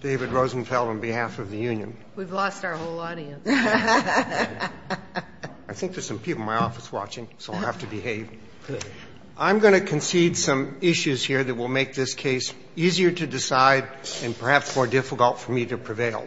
David Rosenfeld, on behalf of the union. We've lost our whole audience. I think there's some people in my office watching, so I'll have to behave. I'm going to concede some issues here that will make this case easier to decide and perhaps more difficult for me to prevail.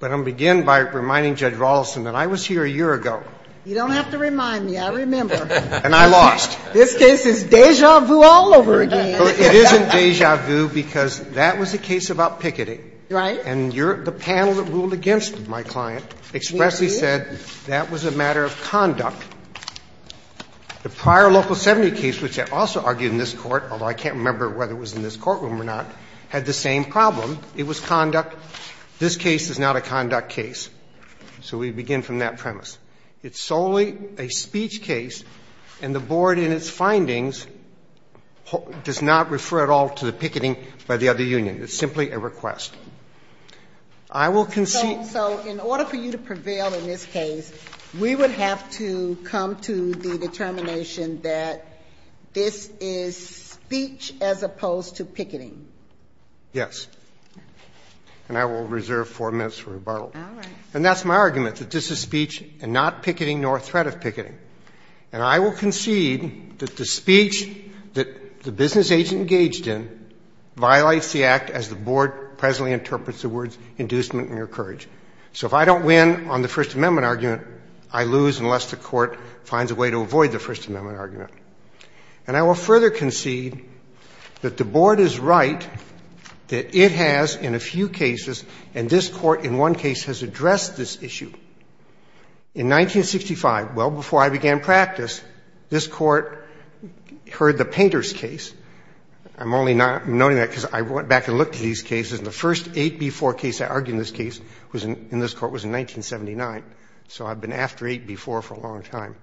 But I'll begin by reminding Judge Rawlinson that I was here a year ago. You don't have to remind me. I remember. And I lost. This case is déjà vu all over again. It isn't déjà vu because that was a case about picketing. Right. And the panel that ruled against my client expressly said that was a matter of conduct. The prior Local 70 case, which I also argued in this Court, although I can't remember whether it was in this courtroom or not, had the same problem. It was conduct. This case is not a conduct case. So we begin from that premise. It's solely a speech case, and the Board, in its findings, does not refer at all to the picketing by the other union. It's simply a request. I will concede to you. So in order for you to prevail in this case, we would have to come to the determination that this is speech as opposed to picketing. Yes. And I will reserve four minutes for rebuttal. All right. And that's my argument, that this is speech and not picketing nor a threat of picketing. And I will concede that the speech that the business agent engaged in violates the act as the Board presently interprets the words inducement and encourage. So if I don't win on the First Amendment argument, I lose unless the Court finds a way to avoid the First Amendment argument. And I will further concede that the Board is right that it has in a few cases, and this Court in one case has addressed this issue. In 1965, well before I began practice, this Court heard the Painter's case. I'm only noting that because I went back and looked at these cases, and the first 8B4 case I argued in this case was in this Court was in 1979. So I've been after 8B4 for a long time.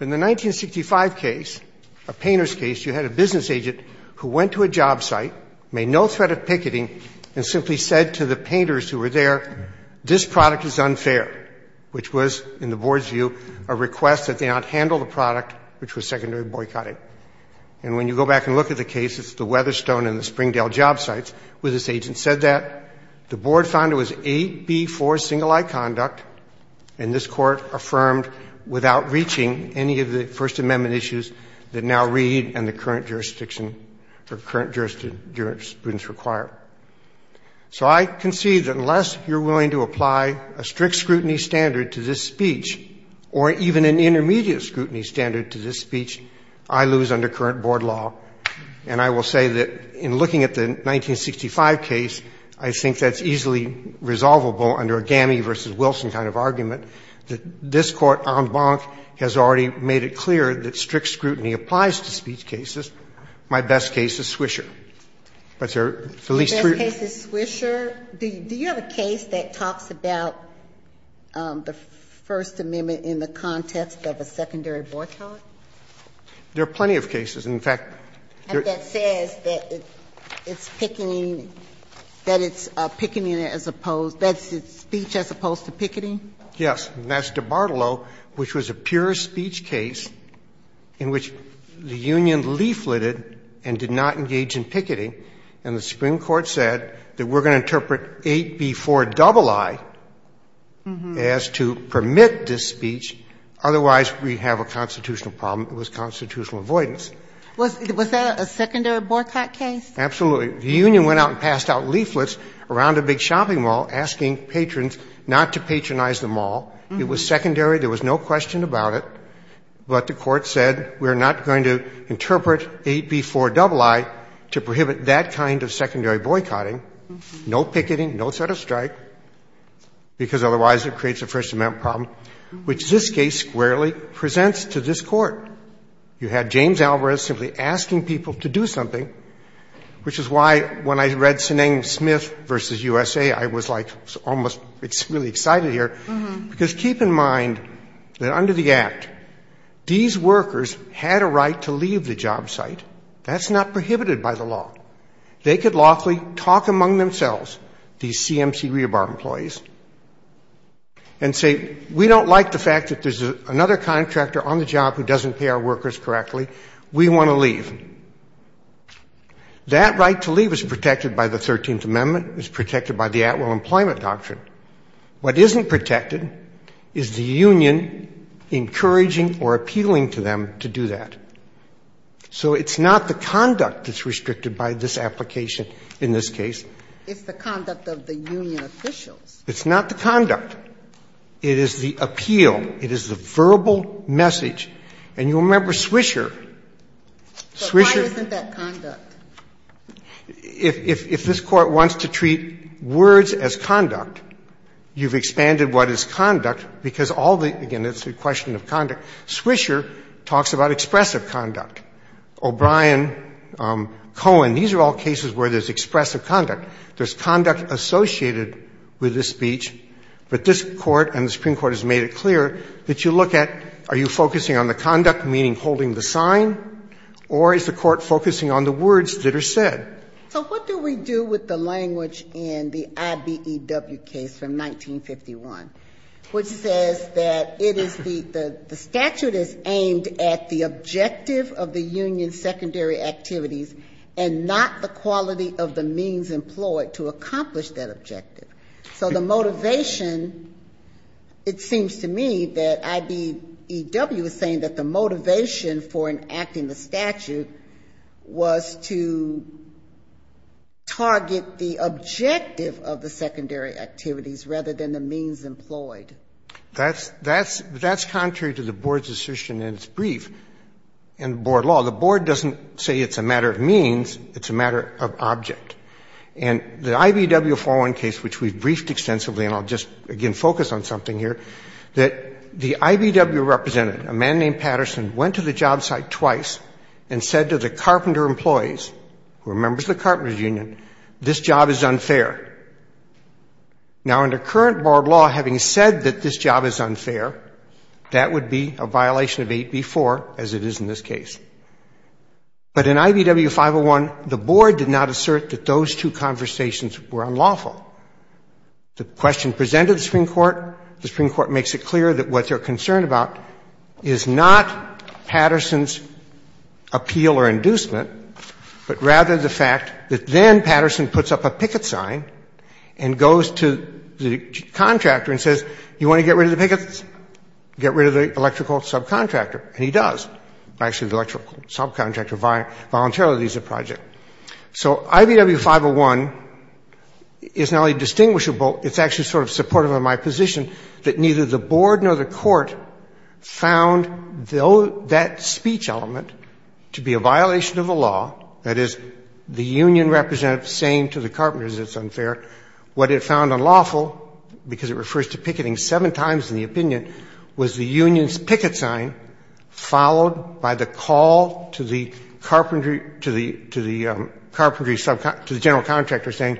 In the 1965 case, a Painter's case, you had a business agent who went to a job site, made no threat of picketing, and simply said to the Painters who were there, this product is unfair, which was, in the Board's view, a request that they not handle the product, which was secondary boycotting. And when you go back and look at the cases, the Weatherstone and the Springdale job sites, where this agent said that, the Board found it was 8B4 single-eye conduct, and this Court affirmed without reaching any of the First Amendment issues that now read in the current jurisdiction, or current jurisdiction that jurisprudence require. So I concede that unless you're willing to apply a strict scrutiny standard to this speech, or even an intermediate scrutiny standard to this speech, I lose under current Board law. And I will say that in looking at the 1965 case, I think that's easily resolvable under a Gammey v. Wilson kind of argument, that this Court, en banc, has already made it clear that strict scrutiny applies to speech cases. My best case is Swisher. But there are at least three. Ginsburg-Miller, do you have a case that talks about the First Amendment in the context of a secondary boycott? There are plenty of cases. In fact, there is. And that says that it's picketing, that it's picketing as opposed, that it's speech as opposed to picketing? Yes. And that's DiBartolo, which was a pure speech case in which the union leafleted and did not engage in picketing. And the Supreme Court said that we're going to interpret 8b-4-ii as to permit this speech, otherwise we have a constitutional problem. It was constitutional avoidance. Was that a secondary boycott case? Absolutely. The union went out and passed out leaflets around a big shopping mall asking patrons not to patronize the mall. It was secondary. There was no question about it. But the Court said we're not going to interpret 8b-4-ii to prohibit that kind of secondary boycotting. No picketing, no set of strike, because otherwise it creates a First Amendment problem, which this case squarely presents to this Court. You had James Alvarez simply asking people to do something, which is why when I read Seneng Smith v. USA, I was like almost really excited here, because keep in mind that under the Act, these workers had a right to leave the job site. That's not prohibited by the law. They could lawfully talk among themselves, these CMC rebar employees, and say we don't like the fact that there's another contractor on the job who doesn't pay our workers correctly. We want to leave. That right to leave is protected by the 13th Amendment, is protected by the At-Will Employment Doctrine. What isn't protected is the union encouraging or appealing to them to do that. So it's not the conduct that's restricted by this application in this case. It's the conduct of the union officials. It's not the conduct. It is the appeal. It is the verbal message. And you remember Swisher. Swisher But why isn't that conduct? If this Court wants to treat words as conduct, you've expanded what is conduct, because all the – again, it's a question of conduct. Swisher talks about expressive conduct. O'Brien, Cohen, these are all cases where there's expressive conduct. There's conduct associated with this speech, but this Court and the Supreme Court has made it clear that you look at are you focusing on the conduct, meaning holding the sign, or is the Court focusing on the words that are said? So what do we do with the language in the IBEW case from 1951, which says that it is the – the statute is aimed at the objective of the union's secondary activities and not the quality of the means employed to accomplish that objective. So the motivation, it seems to me that IBEW is saying that the motivation for the statute was to target the objective of the secondary activities rather than the means employed. That's contrary to the Board's assertion in its brief in the Board law. The Board doesn't say it's a matter of means, it's a matter of object. And the IBEW 401 case, which we've briefed extensively, and I'll just, again, focus on something here, that the IBEW representative, a man named Patterson, went to the job site twice and said to the carpenter employees, who are members of the carpenters' union, this job is unfair. Now, under current Board law, having said that this job is unfair, that would be a violation of 8B4, as it is in this case. But in IBEW 501, the Board did not assert that those two conversations were unlawful. The question presented to the Supreme Court, the Supreme Court makes it clear that what they're concerned about is not Patterson's appeal or inducement, but rather the fact that then Patterson puts up a picket sign and goes to the contractor and says, you want to get rid of the pickets? Get rid of the electrical subcontractor, and he does. Actually, the electrical subcontractor voluntarily leaves the project. So IBEW 501 is not only distinguishable, it's actually sort of supportive of my point that the Supreme Court found that speech element to be a violation of the law, that is, the union representative saying to the carpenters it's unfair. What it found unlawful, because it refers to picketing seven times in the opinion, was the union's picket sign followed by the call to the general contractor saying,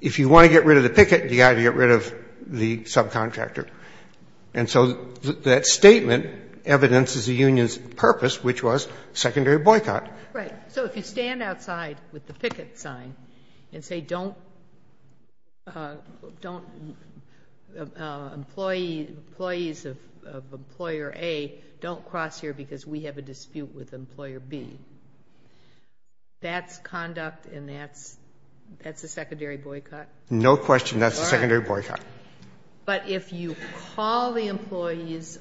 if you want to get rid of the picket, you got to get rid of the subcontractor. And so that statement evidences the union's purpose, which was secondary boycott. Right. So if you stand outside with the picket sign and say, don't employees of Employer A don't cross here because we have a dispute with Employer B, that's conduct and that's a secondary boycott? No question, that's a secondary boycott. But if you call the employees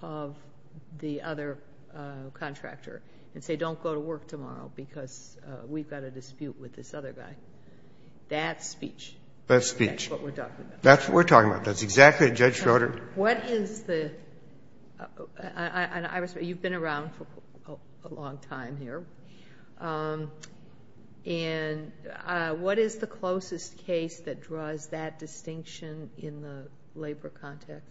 of the other contractor and say, don't go to work tomorrow because we've got a dispute with this other guy, that's speech. That's speech. That's what we're talking about. That's what we're talking about. That's exactly what Judge Schroeder. What is the, you've been around for a long time here, and what is the closest case that draws that distinction in the labor context?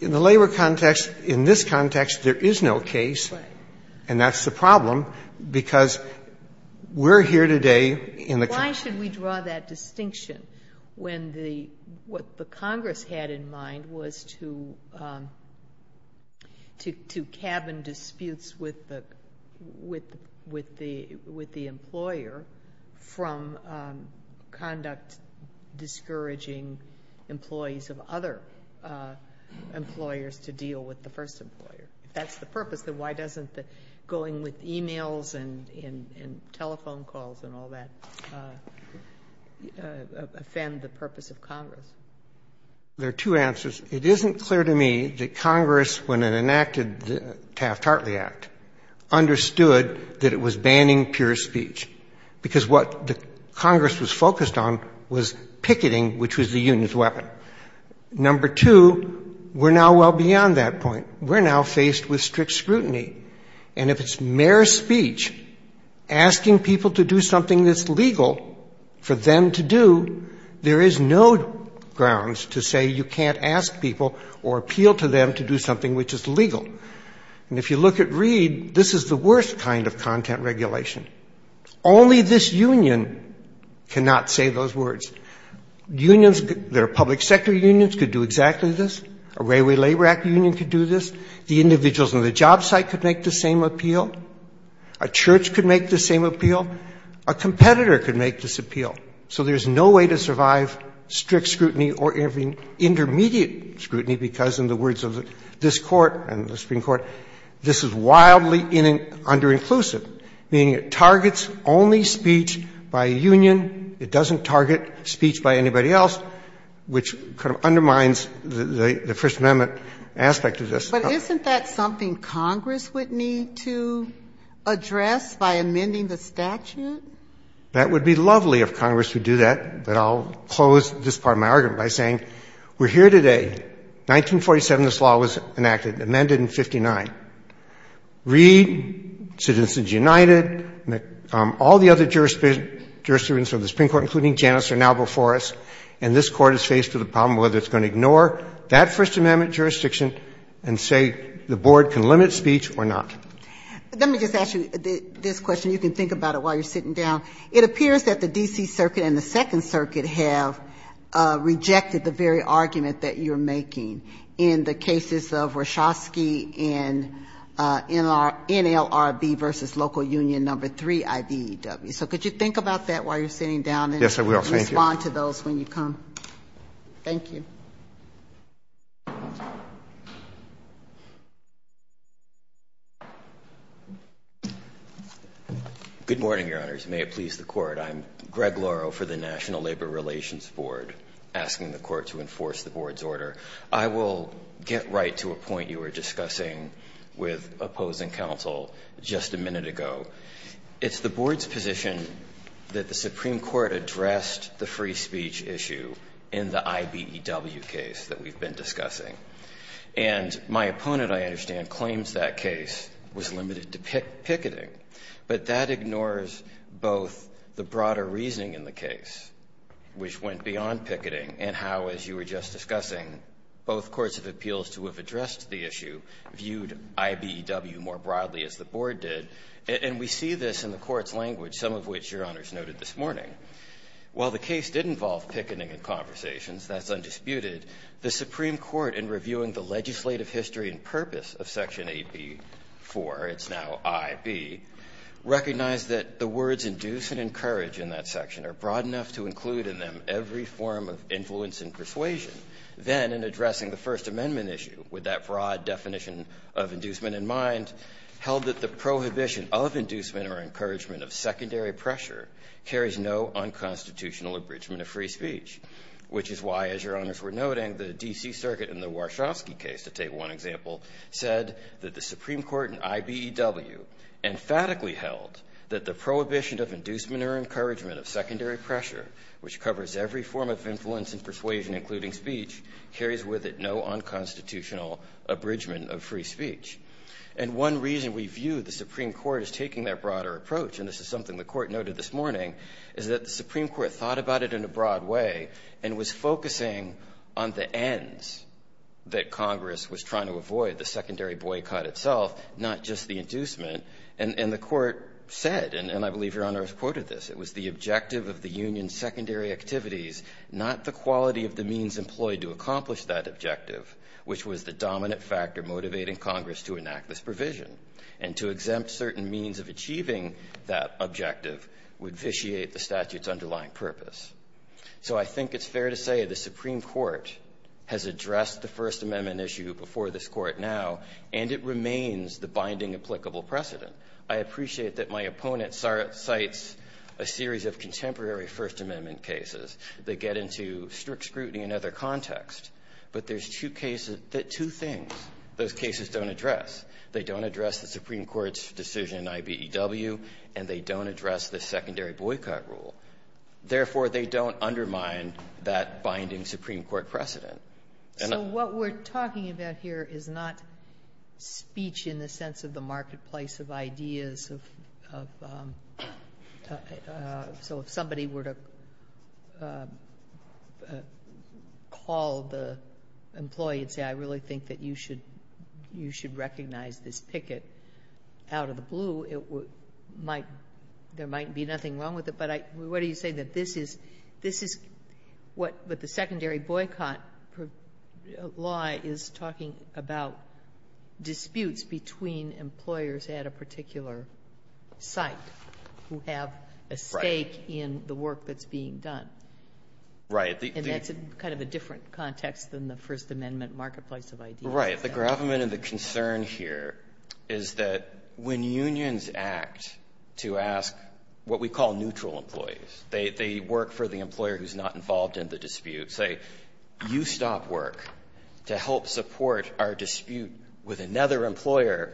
In the labor context, in this context, there is no case, and that's the problem because we're here today in the- Why should we draw that distinction when the, what the Congress had in mind was to, to cabin disputes with the employer from conduct discouraging employees of other employers to deal with the first employer? If that's the purpose, then why doesn't going with emails and telephone calls and all that offend the purpose of Congress? There are two answers. It isn't clear to me that Congress, when it enacted the Taft-Hartley Act, understood that it was banning pure speech because what the Congress was focused on was picketing, which was the union's weapon. Number two, we're now well beyond that point. We're now faced with strict scrutiny. And if it's mere speech, asking people to do something that's legal for them to do, there is no grounds to say you can't ask people or appeal to them to do something which is legal. And if you look at Reed, this is the worst kind of content regulation. Only this union cannot say those words. Unions that are public sector unions could do exactly this. A Railway Labor Act union could do this. The individuals on the job site could make the same appeal. A church could make the same appeal. A competitor could make this appeal. So there's no way to survive strict scrutiny or even intermediate scrutiny because, in the words of this Court and the Supreme Court, this is wildly under-inclusive, meaning it targets only speech by a union. It doesn't target speech by anybody else, which kind of undermines the First Amendment aspect of this. But isn't that something Congress would need to address by amending the statute? That would be lovely if Congress would do that, but I'll close this part of my argument by saying we're here today. In 1947, this law was enacted, amended in 59. Reed, Citizens United, all the other jurisdictions of the Supreme Court, including Janus, are now before us, and this Court is faced with a problem whether it's going to ignore that First Amendment jurisdiction and say the Board can limit speech or not. Let me just ask you this question. You can think about it while you're sitting down. It appears that the D.C. Circuit and the Second Circuit have rejected the very argument that you're making in the cases of Warshawski and NLRB v. Local Union No. 3, IBEW. So could you think about that while you're sitting down and respond to those when you come? Thank you. Good morning, Your Honors. May it please the Court. I'm Greg Lauro for the National Labor Relations Board, asking the Court to enforce the Board's order. I will get right to a point you were discussing with opposing counsel just a minute ago. It's the Board's position that the Supreme Court addressed the free speech issue in the IBEW case that we've been discussing. And my opponent, I understand, claims that case was limited to picketing. But that ignores both the broader reasoning in the case, which went beyond picketing, and how, as you were just discussing, both courts of appeals to have addressed the issue viewed IBEW more broadly, as the Board did. And we see this in the Court's language, some of which Your Honors noted this morning. While the case did involve picketing and conversations, that's undisputed, the Supreme Court, in reviewing the legislative history and purpose of Section 8B.4, it's now I.B., recognized that the words induce and encourage in that section are broad enough to include in them every form of influence and persuasion. Then in addressing the First Amendment issue, with that broad definition of inducement in mind, held that the prohibition of inducement or encouragement of secondary pressure carries no unconstitutional abridgment of free speech. Which is why, as Your Honors were noting, the D.C. Circuit in the Warshawski case, to take one example, said that the Supreme Court in IBEW emphatically held that the prohibition of inducement or encouragement of secondary pressure, which covers every form of influence and persuasion, including speech, carries with it no unconstitutional abridgment of free speech. And one reason we view the Supreme Court as taking that broader approach, and this is what the Court noted this morning, is that the Supreme Court thought about it in a broad way and was focusing on the ends that Congress was trying to avoid, the secondary boycott itself, not just the inducement. And the Court said, and I believe Your Honors quoted this, it was the objective of the union's secondary activities, not the quality of the means employed to accomplish that objective, which was the dominant factor motivating Congress to enact this provision, and to exempt certain means of achieving that objective would vitiate the statute's underlying purpose. So I think it's fair to say the Supreme Court has addressed the First Amendment issue before this Court now, and it remains the binding applicable precedent. I appreciate that my opponent cites a series of contemporary First Amendment cases that get into strict scrutiny and other context, but there's two cases that two things. Those cases don't address. They don't address the Supreme Court's decision in IBEW, and they don't address the secondary boycott rule. Therefore, they don't undermine that binding Supreme Court precedent. And I... So what we're talking about here is not speech in the sense of the marketplace of ideas of... So if somebody were to call the employee and say, I really think that you should recognize this picket out of the blue, there might be nothing wrong with it. But what do you say that this is what the secondary boycott law is talking about? Disputes between employers at a particular site who have a stake in the work that's being done. Right. And that's kind of a different context than the First Amendment marketplace of ideas. Right. The gravamen and the concern here is that when unions act to ask what we call neutral employees, they work for the employer who's not involved in the dispute, say, you stop work to help support our dispute with another employer,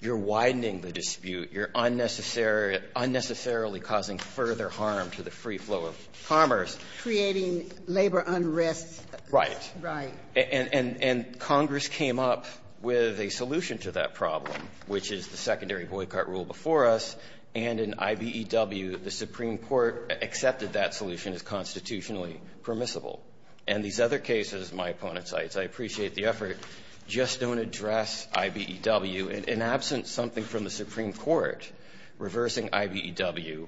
you're widening the dispute, you're unnecessarily causing further harm to the free flow of commerce. Creating labor unrest. Right. Right. And Congress came up with a solution to that problem, which is the secondary boycott rule before us. And in IBEW, the Supreme Court accepted that solution as constitutionally permissible. And these other cases, my opponent cites, I appreciate the effort, just don't address IBEW. In absence of something from the Supreme Court reversing IBEW,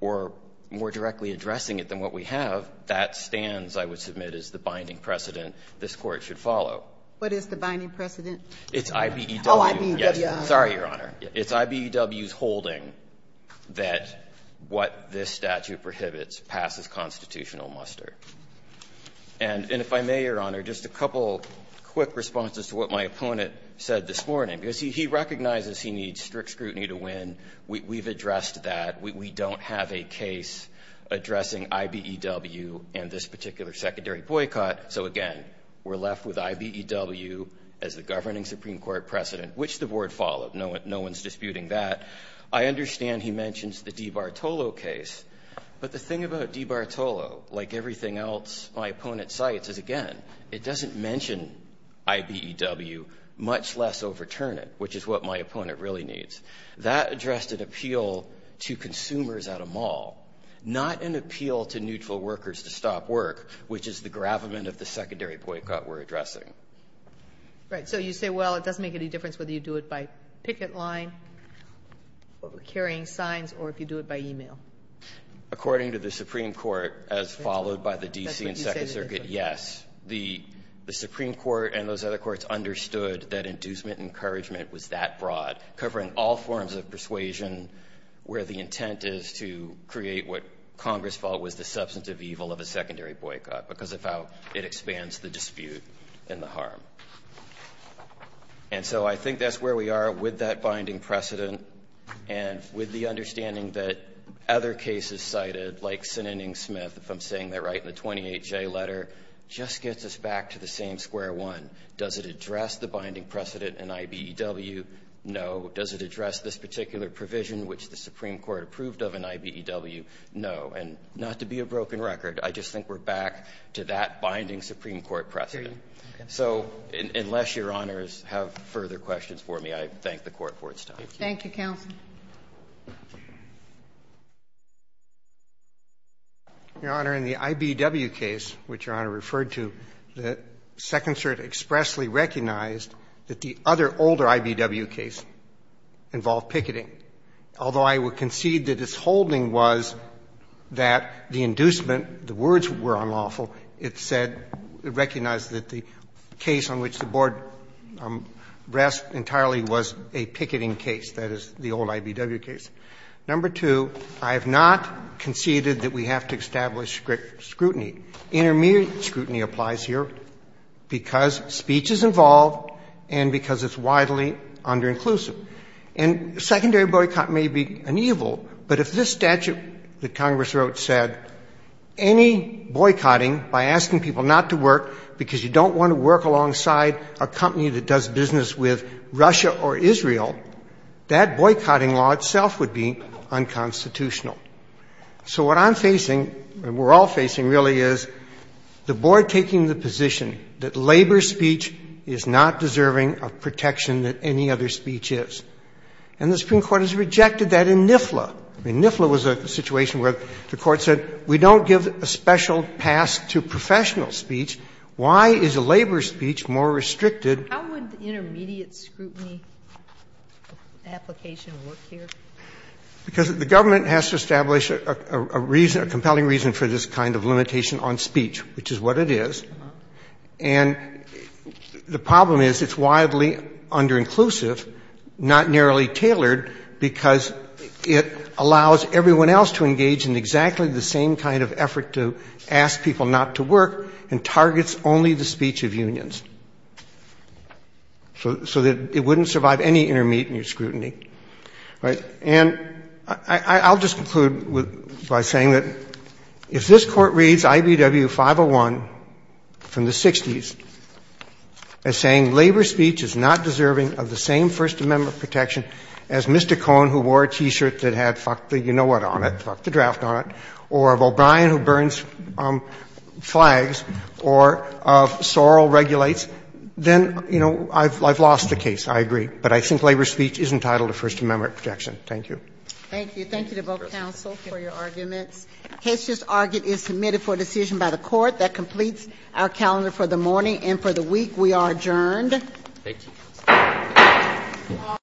or more directly addressing it than what we have, that stands, I would submit, as the binding precedent this Court should follow. What is the binding precedent? It's IBEW. Oh, IBEW. Yes. Sorry, Your Honor. It's IBEW's holding that what this statute prohibits passes constitutional muster. And if I may, Your Honor, just a couple quick responses to what my opponent said this morning. Because he recognizes he needs strict scrutiny to win. We've addressed that. We don't have a case addressing IBEW and this particular secondary boycott. So again, we're left with IBEW as the governing Supreme Court precedent, which the Board followed. No one's disputing that. I understand he mentions the DiBartolo case. But the thing about DiBartolo, like everything else my opponent cites, is, again, it doesn't mention IBEW, much less overturn it, which is what my opponent really needs. That addressed an appeal to consumers at a mall, not an appeal to neutral workers to stop work, which is the gravamen of the secondary boycott we're addressing. Right. So you say, well, it doesn't make any difference whether you do it by picket line, carrying signs, or if you do it by email. According to the Supreme Court, as followed by the DC and Second Circuit, yes, the Supreme Court and those other courts understood that inducement encouragement was that broad, covering all forms of persuasion, where the intent is to create what Congress thought was the substantive evil of a secondary boycott because of how it expands the dispute and the harm. And so I think that's where we are with that binding precedent and with the understanding that other cases cited, like Sinning Smith, if I'm saying that right, in the 28J letter, just gets us back to the same square one. Does it address the binding precedent in IBEW? No. Does it address this particular provision which the Supreme Court approved of in IBEW? No. And not to be a broken record, I just think we're back to that binding Supreme Court precedent. So unless Your Honors have further questions for me, I thank the Court for its time. Thank you, counsel. Your Honor, in the IBEW case, which Your Honor referred to, the Second Circuit expressly recognized that the other, older IBEW case involved picketing. Although I would concede that its holding was that the inducement, the words were unlawful, it said, it recognized that the case on which the Board rests entirely was a picketing case, that is, the old IBEW case. Number two, I have not conceded that we have to establish scrutiny. Intermediate scrutiny applies here because speech is involved and because it's widely under-inclusive. And secondary boycott may be an evil, but if this statute that Congress wrote said any boycotting by asking people not to work because you don't want to work alongside a company that does business with Russia or Israel, that boycotting law itself would be unconstitutional. So what I'm facing, and we're all facing really, is the Board taking the position that labor speech is not deserving of protection that any other speech is. And the Supreme Court has rejected that in NIFLA. In NIFLA was a situation where the Court said, we don't give a special pass to professional speech. Why is a labor speech more restricted? How would intermediate scrutiny application work here? Because the government has to establish a compelling reason for this kind of limitation on speech, which is what it is. And the problem is it's widely under-inclusive, not narrowly tailored, because it allows everyone else to engage in exactly the same kind of effort to ask people not to work and targets only the speech of unions. So that it wouldn't survive any intermediate scrutiny. And I'll just conclude by saying that if this Court reads I.B.W. 501 from the 60s as saying labor speech is not deserving of the same First Amendment protection as Mr. Cohn, who wore a T-shirt that had fuck the you-know-what on it, fuck the draft on it, or of O'Brien who burns flags, or of Sorrell regulates, then, you know, I've lost the case. I agree. But I think labor speech is entitled to First Amendment protection. Thank you. Thank you. Thank you to both counsel for your arguments. Case just argued is submitted for decision by the Court. That completes our calendar for the morning. And for the week, we are adjourned. Thank you.